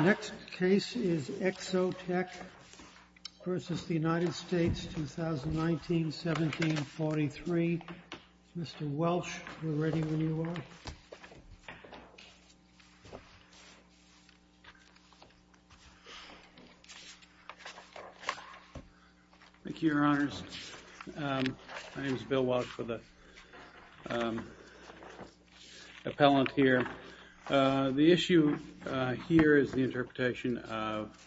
Next case is Exotech versus the United States, 2019-17-43. Mr. Welch, we're ready when you are. Thank you, Your Honors. My name is Bill Welch for the appellant here. The issue here is the interpretation of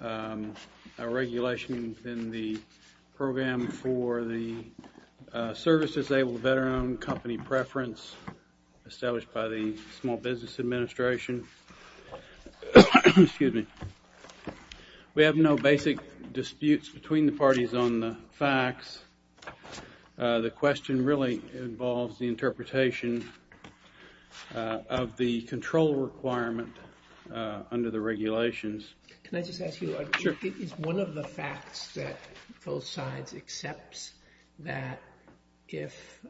a regulation in the program for the service-disabled veteran-owned company preference established by the Small Business Administration. We have no basic disputes between the parties on the facts. The question really involves the interpretation of the control requirement under the regulations. Can I just ask you, is one of the facts that both sides accepts that if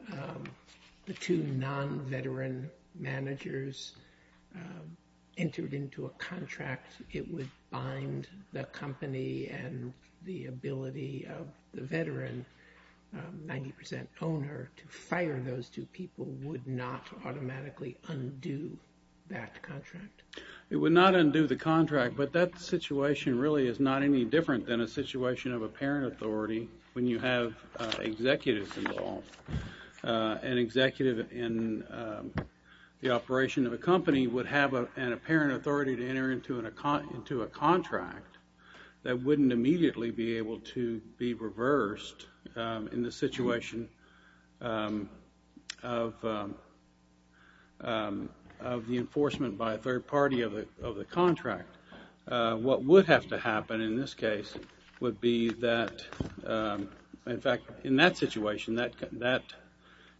the two non-veteran managers entered into a contract, it would bind the company and the ability of the veteran 90% owner to fire those two people would not automatically undo that contract? It would not undo the contract, but that situation really is not any different than a situation of a parent authority when you have executives involved. An executive in the operation of a company would have a parent authority to enter into a contract that wouldn't immediately be able to be reversed in the situation of the enforcement by a third party of the contract. What would have to happen in this case would be that, in fact, in that situation that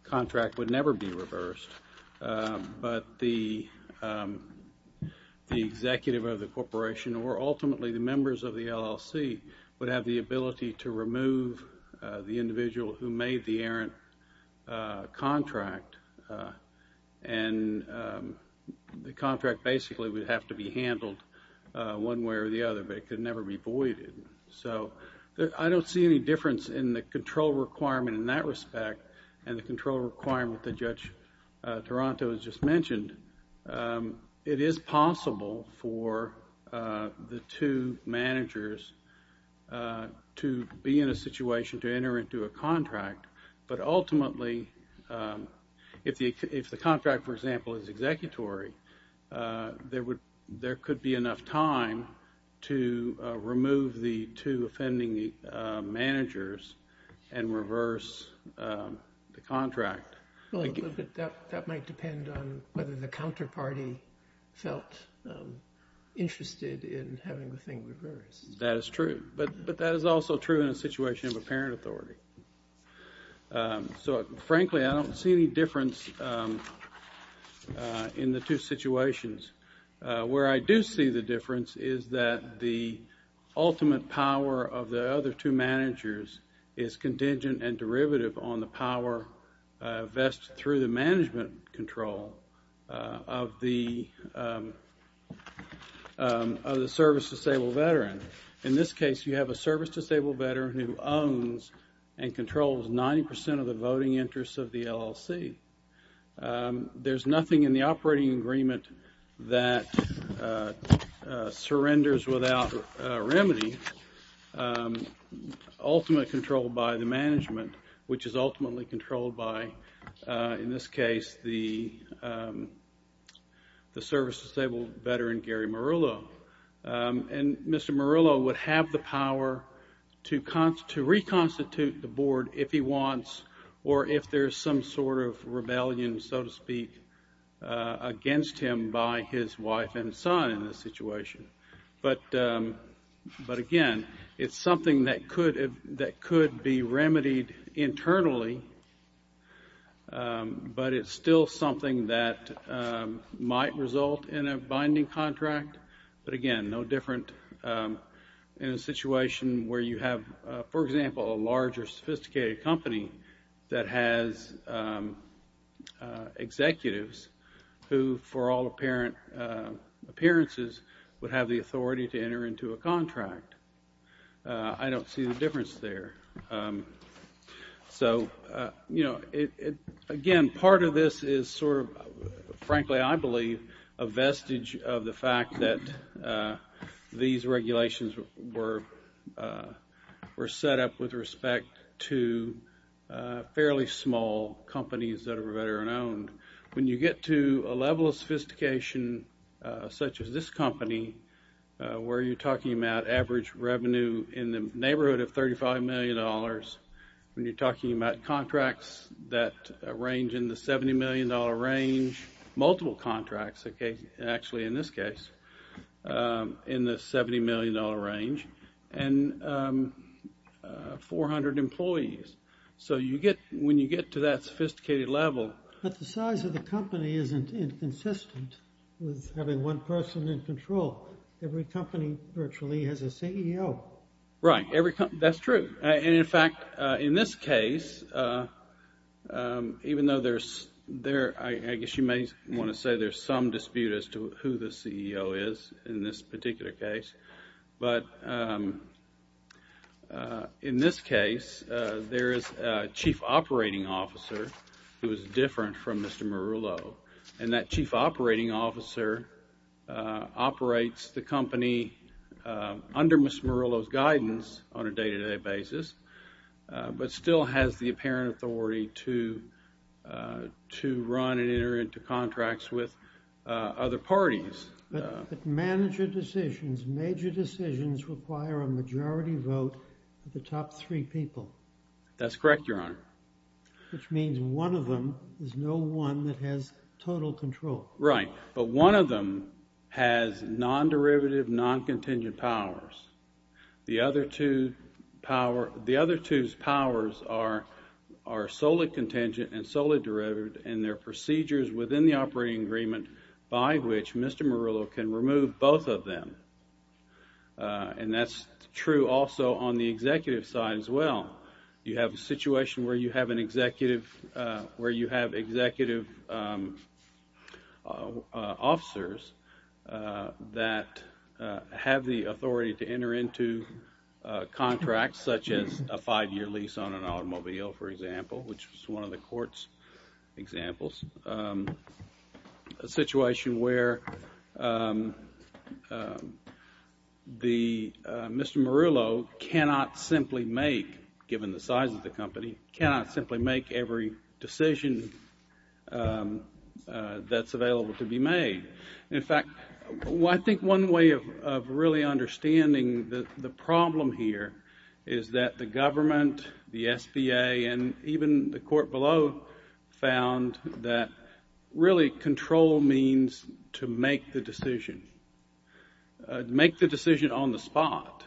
contract would never be reversed, but the executive of the corporation or ultimately the members of the LLC would have the ability to remove the individual who made the errant contract and the contract basically would have to be handled one way or the other, but it could never be voided. So I don't see any difference in the control requirement in that respect and the control requirement that Judge Taranto has just mentioned. It is possible for the two managers to be in a situation to enter into a contract, but if the contract, for example, is executory, there could be enough time to remove the two offending managers and reverse the contract. That might depend on whether the counterparty felt interested in having the thing reversed. That is true, but that is also true in a situation of a parent authority. So, frankly, I don't see any difference in the two situations. Where I do see the difference is that the ultimate power of the other two managers is contingent and derivative on the power vested through the management control of the service-disabled veteran. In this case, you have a service-disabled veteran who owns and controls 90 percent of the voting interests of the LLC. There's nothing in the operating agreement that surrenders without remedy, ultimately controlled by the management, which is ultimately controlled by, in this case, the service-disabled veteran, Gary Marullo. And Mr. Marullo would have the power to reconstitute the board if he wants or if there's some sort of rebellion, so to speak, against him by his wife and son in this situation. But again, it's something that could be remedied internally, but it's still something that could be remedied externally. But again, no different in a situation where you have, for example, a large or sophisticated company that has executives who, for all appearances, would have the authority to enter into a contract. I don't see the difference there. So again, part of this is sort of, frankly, I believe, a vestige of the fact that the government, these regulations were set up with respect to fairly small companies that are veteran-owned. When you get to a level of sophistication such as this company, where you're talking about average revenue in the neighborhood of $35 million, when you're talking about contracts that range in the $70 million range, multiple contracts, actually, in this case, in the $70 million range, and 400 employees. So when you get to that sophisticated level... But the size of the company isn't inconsistent with having one person in control. Every company virtually has a CEO. Right. That's true. In fact, in this case, even though there's, I guess you may want to say there's some idea of what a CEO is in this particular case, but in this case, there is a chief operating officer who is different from Mr. Marullo, and that chief operating officer operates the company under Mr. Marullo's guidance on a day-to-day basis, but still has the apparent authority to run and enter into contracts with other parties. But manager decisions, major decisions, require a majority vote of the top three people. That's correct, Your Honor. Which means one of them is no one that has total control. Right, but one of them has non-derivative, non-contingent powers. The other two's powers are solely contingent and solely derivative in their procedures within the operating agreement by which Mr. Marullo can remove both of them. And that's true also on the executive side as well. You have a situation where you have executive officers that have the authority to enter into contracts such as a five-year lease on an automobile, for example, which is one of the court's examples, a situation where Mr. Marullo cannot simply make, given the size of the company, cannot simply make every decision that's available to be made. In fact, I think one way of really understanding the problem here is that the government, the SBA, and even the court below found that really control means to make the decision. Make the decision on the spot.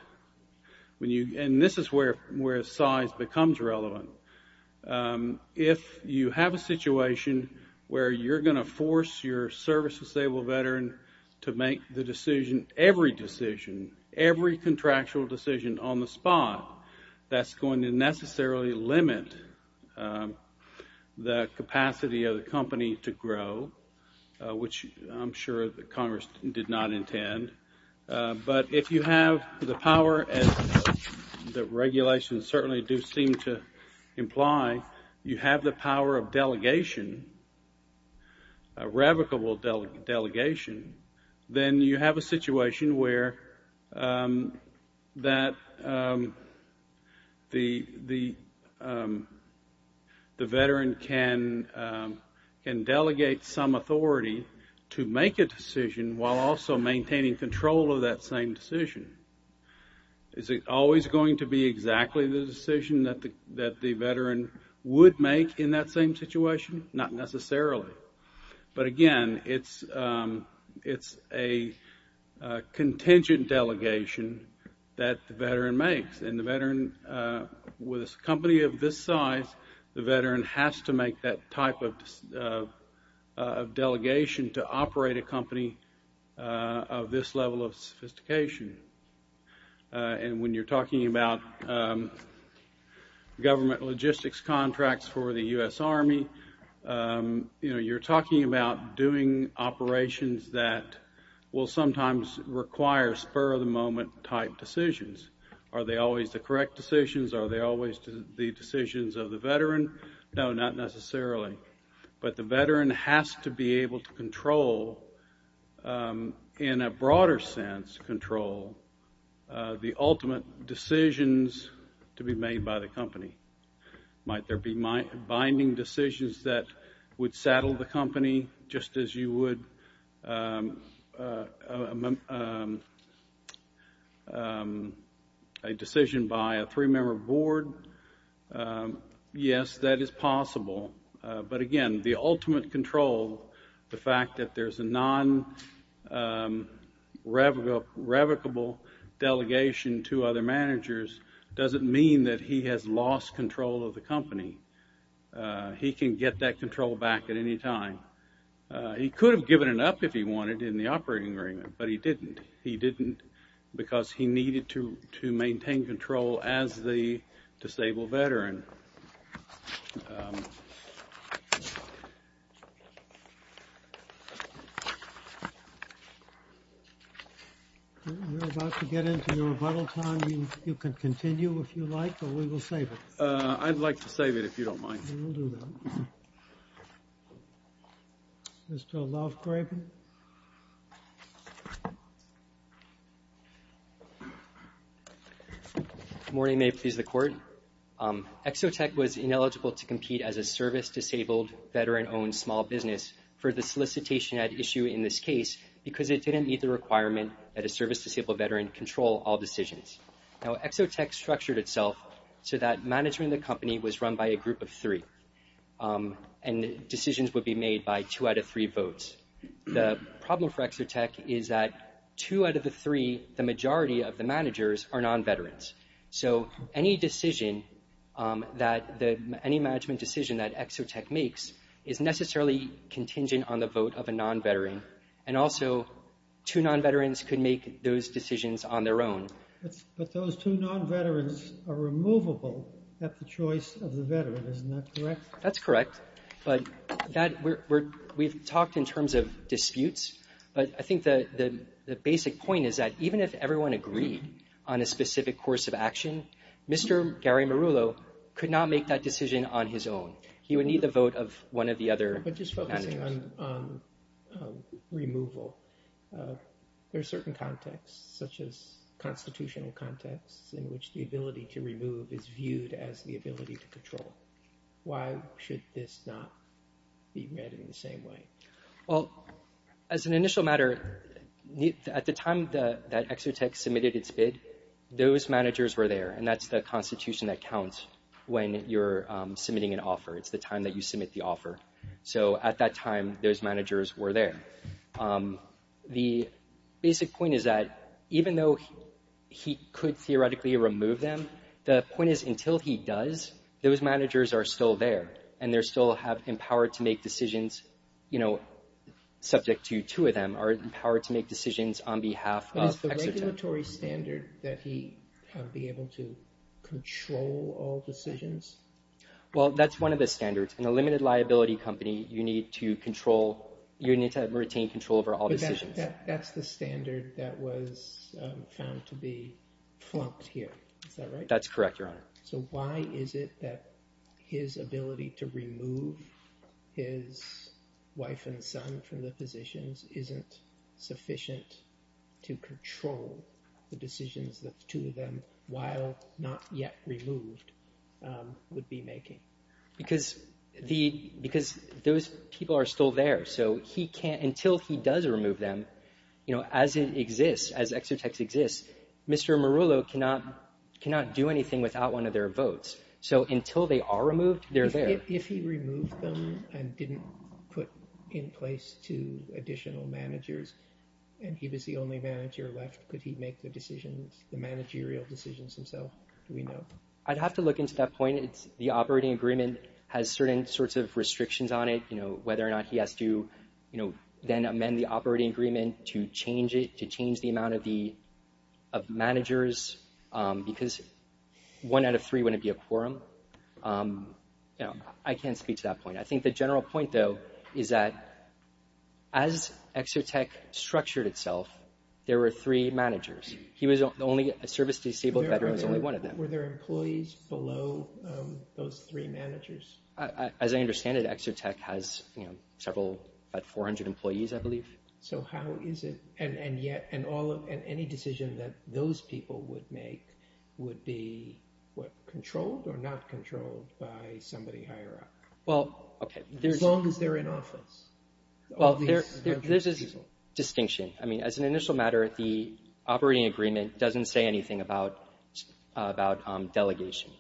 And this is where size becomes relevant. So, if you have a situation where you're going to force your service disabled veteran to make the decision, every decision, every contractual decision on the spot, that's going to necessarily limit the capacity of the company to grow, which I'm sure that Congress did not intend. But if you have the power, as the regulations certainly do seem to imply, you have the power of delegation, a revocable delegation, then you have a situation where that the veteran can delegate some authority to make a decision while also maintaining control of that same decision. Is it always going to be exactly the decision that the veteran would make in that same situation? Not necessarily. But again, it's a contingent delegation that the veteran makes. And the veteran, with a company of this size, the veteran has to make that type of delegation to operate a company of this level of sophistication. And when you're talking about government logistics contracts for the U.S. Army, you're talking about doing operations that will sometimes require spur of the moment type decisions. Are they always the correct decisions? Are they always the decisions of the veteran? No, not necessarily. But the veteran has to be able to control, in a broader sense control, the ultimate decisions to be made by the company. Might there be binding decisions that would saddle the company, just as you would a contractual decision by a three-member board? Yes, that is possible. But again, the ultimate control, the fact that there's a non-revocable delegation to other managers doesn't mean that he has lost control of the company. He can get that control back at any time. He could have given it up if he wanted in the operating agreement, but he didn't. He didn't because he needed to maintain control as the disabled veteran. We're about to get into your rebuttal time. You can continue if you like, or we will save it. I'd like to save it if you don't mind. We will do that. Mr. Lovegraven. Good morning, may it please the Court. Exotech was ineligible to compete as a service-disabled veteran-owned small business for the solicitation at issue in this case because it didn't meet the requirement that a service-disabled veteran control all decisions. Now, Exotech structured itself so that management of the company was run by a group of three, and decisions would be made by two out of three votes. The problem for Exotech is that two out of the three, the majority of the managers are non-veterans. So any decision that any management decision that Exotech makes is necessarily contingent on the vote of a non-veteran, and also two non-veterans could make those decisions on their own. But those two non-veterans are removable at the choice of the veteran, isn't that correct? That's correct, but we've talked in terms of disputes, but I think the basic point is that even if everyone agreed on a specific course of action, Mr. Gary Marullo could not make that decision on his own. He would need the vote of one of the other managers. But just focusing on removal, there are certain contexts, such as constitutional contexts, in which the ability to remove is viewed as the ability to control. Why should this not be read in the same way? As an initial matter, at the time that Exotech submitted its bid, those managers were there, and that's the constitution that counts when you're submitting an offer. It's the time that you submit the offer. So, at that time, those managers were there. The basic point is that even though he could theoretically remove them, the point is until he does, those managers are still there, and they still have the power to make decisions, subject to two of them, are empowered to make decisions on behalf of Exotech. But is the regulatory standard that he would be able to control all decisions? Well, that's one of the standards. In a limited liability company, you need to retain control over all decisions. But that's the standard that was found to be flunked here. Is that right? That's correct, Your Honor. So why is it that his ability to remove his wife and son from the positions isn't sufficient to control the decisions that two of them, while not yet removed, would be making? Because those people are still there. So, until he does remove them, as it exists, as Exotech exists, Mr. Marullo cannot do anything without one of their votes. So, until they are removed, they're there. If he removed them and didn't put in place two additional managers, and he was the only manager left, could he make the decisions, the managerial decisions himself? Do we know? I'd have to look into that point. The operating agreement has certain sorts of restrictions on it, whether or not he has to then amend the operating agreement to change it, to change the amount of managers, because one out of three wouldn't be a quorum. I can't speak to that point. I think the general point, though, is that as Exotech structured itself, there were three managers. He was the only service disabled veteran, was only one of them. Were there employees below those three managers? As I understand it, Exotech has several, about 400 employees, I believe. So, how is it, and any decision that those people would make would be, what, controlled or not controlled by somebody higher up? Well, okay. As long as they're in office. Well, there's a distinction. I mean, as an initial matter, the operating agreement doesn't say anything about delegation.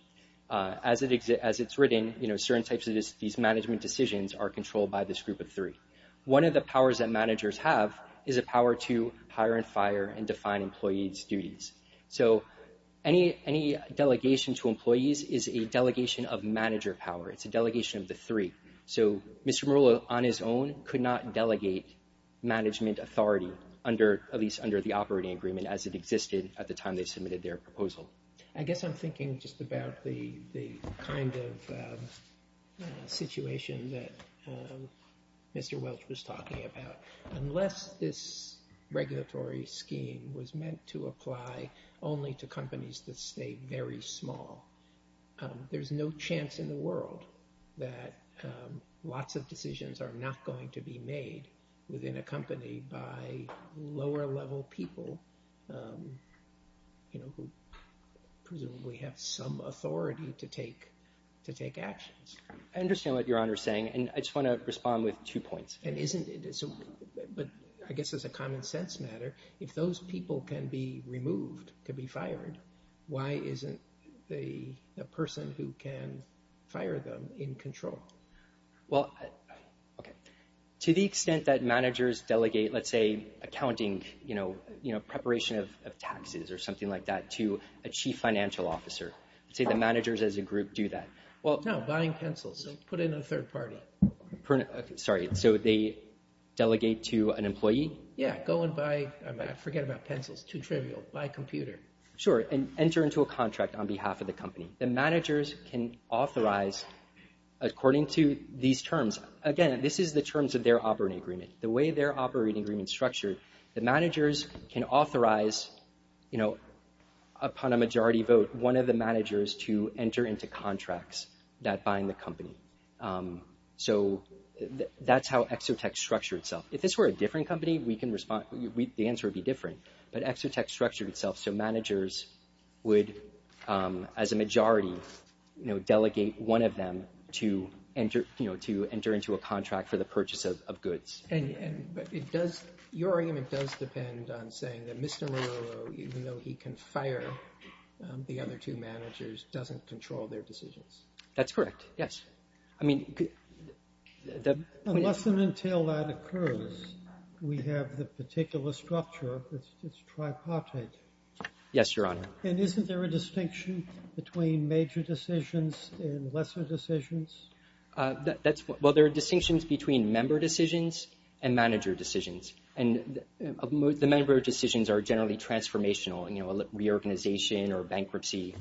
As it's written, certain types of these management decisions are controlled by this group of three. One of the powers that managers have is a power to hire and fire and define employees' duties. So, any delegation to employees is a delegation of manager power. It's a delegation of the three. So, Mr. Murillo, on his own, could not delegate management authority, at least under the operating agreement, as it existed at the time they submitted their proposal. I guess I'm thinking just about the kind of situation that Mr. Welch was talking about. Unless this regulatory scheme was meant to apply only to companies that stay very small, there's no chance in the world that lots of decisions are not going to be made within a company by lower-level people who presumably have some authority to take actions. I understand what Your Honor is saying, and I just want to respond with two points. But I guess as a common-sense matter, if those people can be removed, can be fired, why isn't a person who can fire them in control? Well, okay. To the extent that managers delegate, let's say, accounting, you know, preparation of taxes or something like that to a chief financial officer, let's say the managers as a group do that. No, buying pencils. Put in a third party. Sorry, so they delegate to an employee? Yeah, go and buy, forget about pencils, too trivial, buy a computer. Sure, and enter into a contract on behalf of the company. The managers can authorize, according to these terms, again, this is the terms of their operating agreement. The way their operating agreement is structured, the managers can authorize, you know, upon a majority vote, one of the managers to enter into contracts that bind the company. So, that's how Exotech structured itself. If this were a different company, the answer would be different. But Exotech structured itself so managers would, as a majority, you know, delegate one of them to enter, you know, to enter into a contract for the purchase of goods. And, but it does, your argument does depend on saying that Mr. Muroro, even though he can fire the other two managers, doesn't control their decisions. That's correct, yes. I mean... Unless and until that occurs, we have the particular structure that's tripartite. Yes, your Honor. And isn't there a distinction between major decisions and lesser decisions? That's, well, there are distinctions between member decisions and manager decisions. And the member decisions are generally transformational, you know, reorganization or bankruptcy.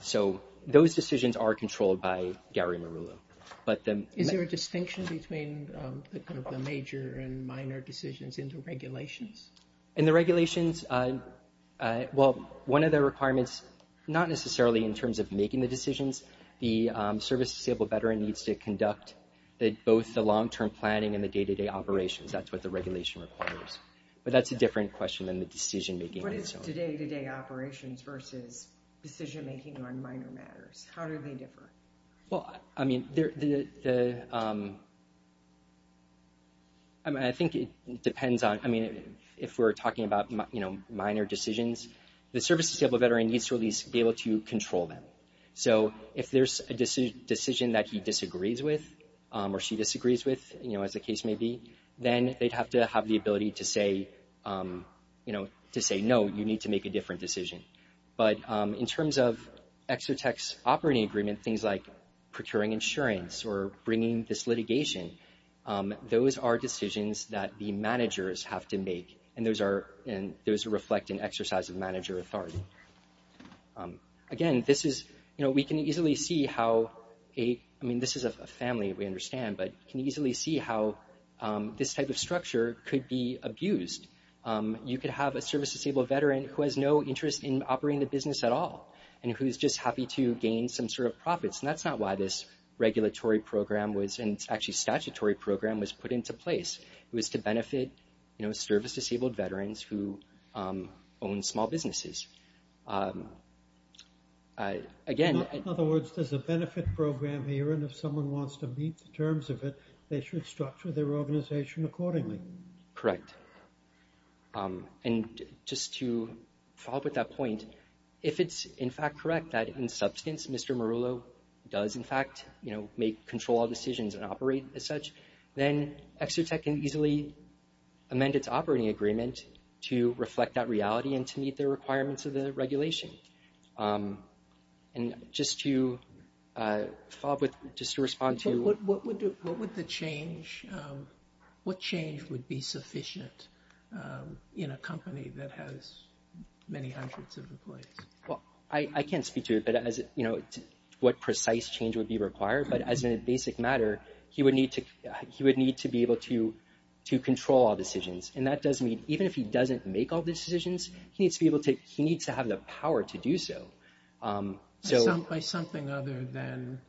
So, those decisions are controlled by Gary Muroro. Is there a distinction between the major and minor decisions in the regulations? In the regulations, well, one of the requirements, not necessarily in terms of making the decisions, the service disabled veteran needs to conduct both the long-term planning and the day-to-day operations. That's what the regulation requires. But that's a different question than the decision-making. What is the day-to-day operations versus decision-making on minor matters? How do they differ? Well, I mean, the... I mean, I think it depends on... I mean, if we're talking about, you know, minor decisions, the service disabled veteran needs to at least be able to control them. So, if there's a decision that he disagrees with or she disagrees with, you know, as the case may be, then they'd have to have the ability to say, you know, to say, no, you need to make a different decision. But in terms of ExoTec's operating agreement, things like procuring insurance or bringing this litigation, those are decisions that the managers have to make, and those reflect an exercise of manager authority. Again, this is, you know, we can easily see how a... I mean, this is a family, we understand, but we can easily see how this type of structure could be abused. You could have a service disabled veteran who has no interest in operating the business at all, and who's just happy to gain some sort of profits, and that's not why this regulatory program was, and actually statutory program, was put into place. It was to benefit, you know, service disabled veterans who own small businesses. Again... In other words, there's a benefit program here, and if someone wants to meet the terms of it, they should structure their organization accordingly. Correct. And just to follow up with that point, if it's in fact correct that in substance Mr. Marullo does in fact, you know, make, control all decisions and operate as such, then ExoTec can easily amend its operating agreement to reflect that reality and to meet the requirements of the regulation. And just to follow up with, just to respond to... What would the change, what change would be sufficient in a company that has many hundreds of employees? Well, I can't speak to what precise change would be required, but as a basic matter, he would need to be able to control all decisions, and that does mean even if he doesn't make all decisions, he needs to have the power to do so. By something other than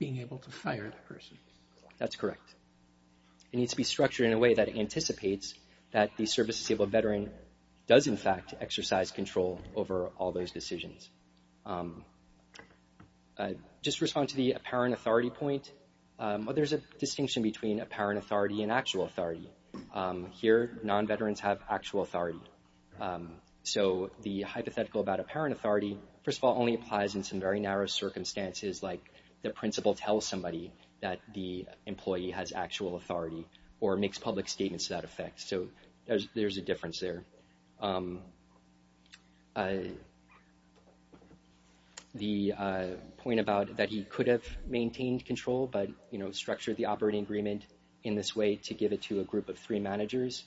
being able to fire the person. That's correct. It needs to be structured in a way that anticipates that the service disabled veteran does in fact exercise control over all those decisions. Just to respond to the apparent authority point, there's a distinction between apparent authority and actual authority. Here, non-veterans have actual authority. So, the hypothetical about apparent authority, first of all, only applies in some very narrow circumstances like the principal tells somebody that the employee has actual authority or makes public statements to that effect. So, there's a difference there. The point about that he could have maintained control, but structured the operating agreement in this way to give it to a group of three managers.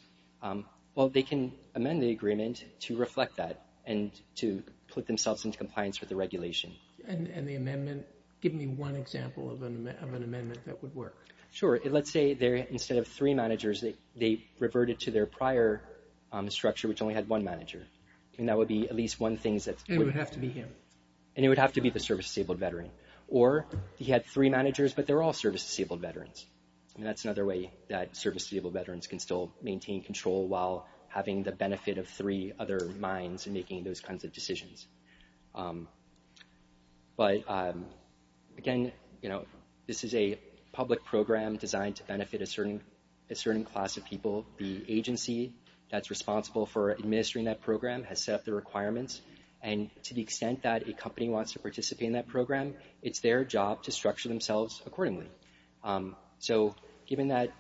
Well, they can amend the agreement to reflect that and to put themselves into compliance with the regulation. And the amendment, give me one example of an amendment that would work. Sure. Let's say instead of three managers, they reverted to their prior structure which only had one manager. And that would be at least one thing that's... It would have to be him. And it would have to be the service disabled veteran. Or he had three managers, but they're all service disabled veterans. And that's another way that service disabled veterans can still maintain control while having the benefit of three other minds in making those kinds of decisions. But again, this is a public program designed to benefit a certain class of people. The agency that's responsible for administering that program has set up the requirements. And to the extent that a company wants to participate in that program, it's their job to structure themselves accordingly. So given that,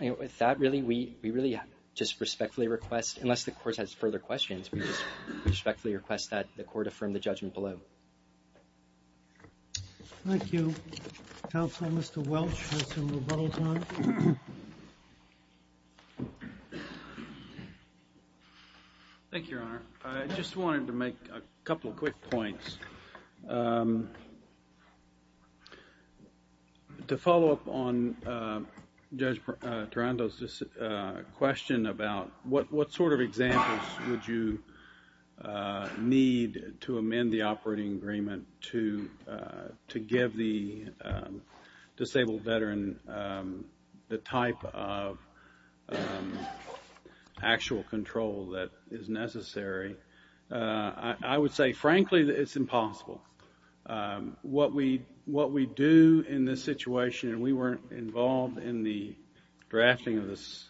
with that really, we really just respectfully request, unless the court has further questions, we just respectfully request that the court affirm the judgment below. Thank you. Counselor, Mr. Welch has some rebuttals on it. Thank you, Your Honor. I just wanted to make a couple of quick points. To follow up on Judge Tarando's question about what sort of examples would you need to amend the operating agreement to give the disabled veteran the type of actual control that is necessary, I would say, frankly, it's impossible. What we do in this situation, and we weren't involved in the drafting of this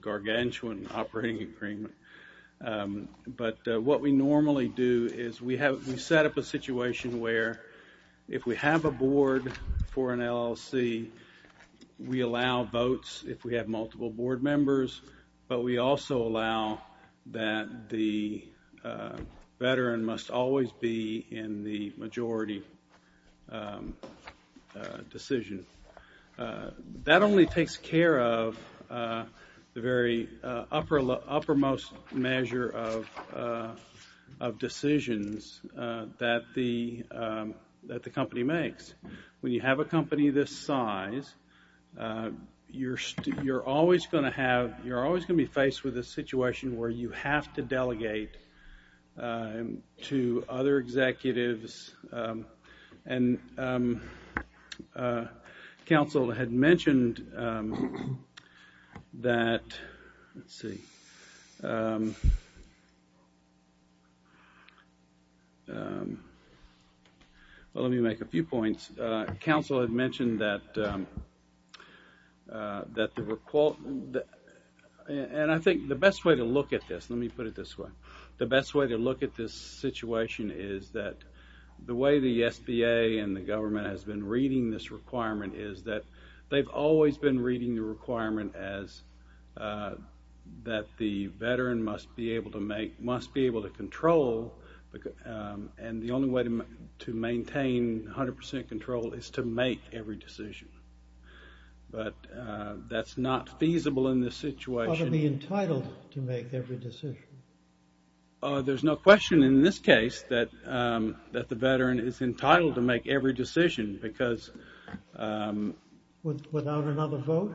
gargantuan operating agreement, but what we normally do is we set up a situation where if we have a board for an LLC, we allow votes if we have multiple board members, but we also allow that the veteran must always be in the majority decision. That only takes care of the very uppermost measure of decisions that the company makes. When you have a company this size, you're always going to have, you're always going to be in a situation where you have to delegate to other executives, and counsel had mentioned that, let's see, well, let me make a few points. Counsel had mentioned that, and I think the best way to look at this, let me put it this way, the best way to look at this situation is that the way the SBA and the government has been reading this requirement is that they've always been reading the requirement as that the veteran must be able to make, must be able to control, and the only way to maintain 100% control is to make every decision, but that's not feasible in this situation. But to be entitled to make every decision? There's no question in this case that the veteran is entitled to make every decision because... Without another vote?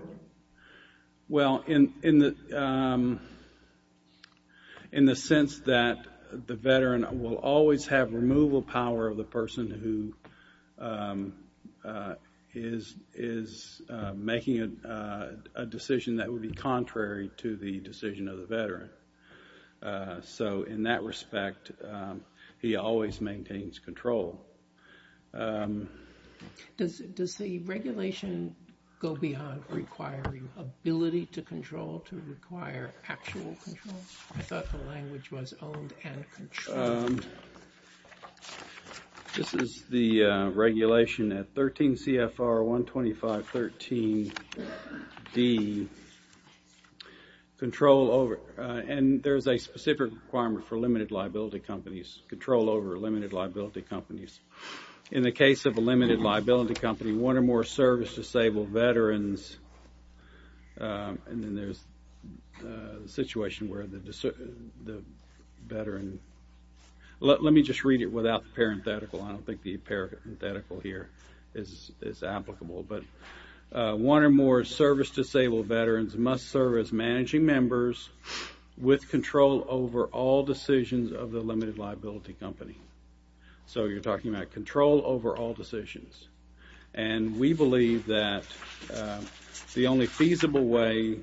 Well, in the sense that the veteran will always have removal power of the person who is making a decision that would be contrary to the decision of the veteran. So, in that respect, he always maintains control. Does the regulation go beyond requiring ability to control to require actual control? I thought the language was owned and controlled. This is the regulation at 13 CFR 125.13D, control over, and there's a specific requirement for limited liability companies, control over limited liability companies. In the case of a limited liability company, one or more service-disabled veterans, and then there's a situation where the veteran, let me just read it without the parenthetical. I don't think the parenthetical here is applicable, but one or more service-disabled veterans must serve as managing members with control over all decisions of the limited liability company. So, you're talking about control over all decisions. And we believe that the only feasible way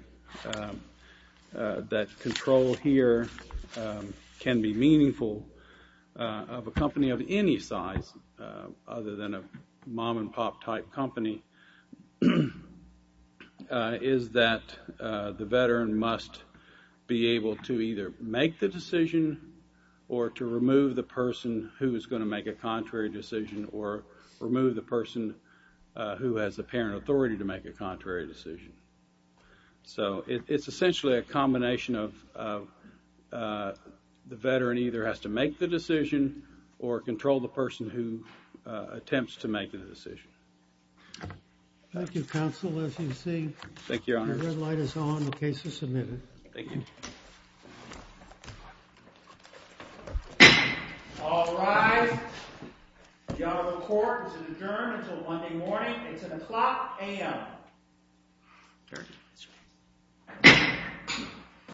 that control here can be meaningful of a company of any size other than a mom-and-pop type company is that the veteran must be able to either make the decision or to remove the person who is going to make a contrary decision or remove the person who has the parent authority to make a contrary decision. So, it's essentially a combination of the veteran either has to make the decision or control the person who attempts to make the decision. Thank you, Counsel, as you see. Thank you, Your Honor. The red light is on. The case is submitted. Thank you. All rise. The Honorable Court is adjourned until Monday morning. It's o'clock a.m.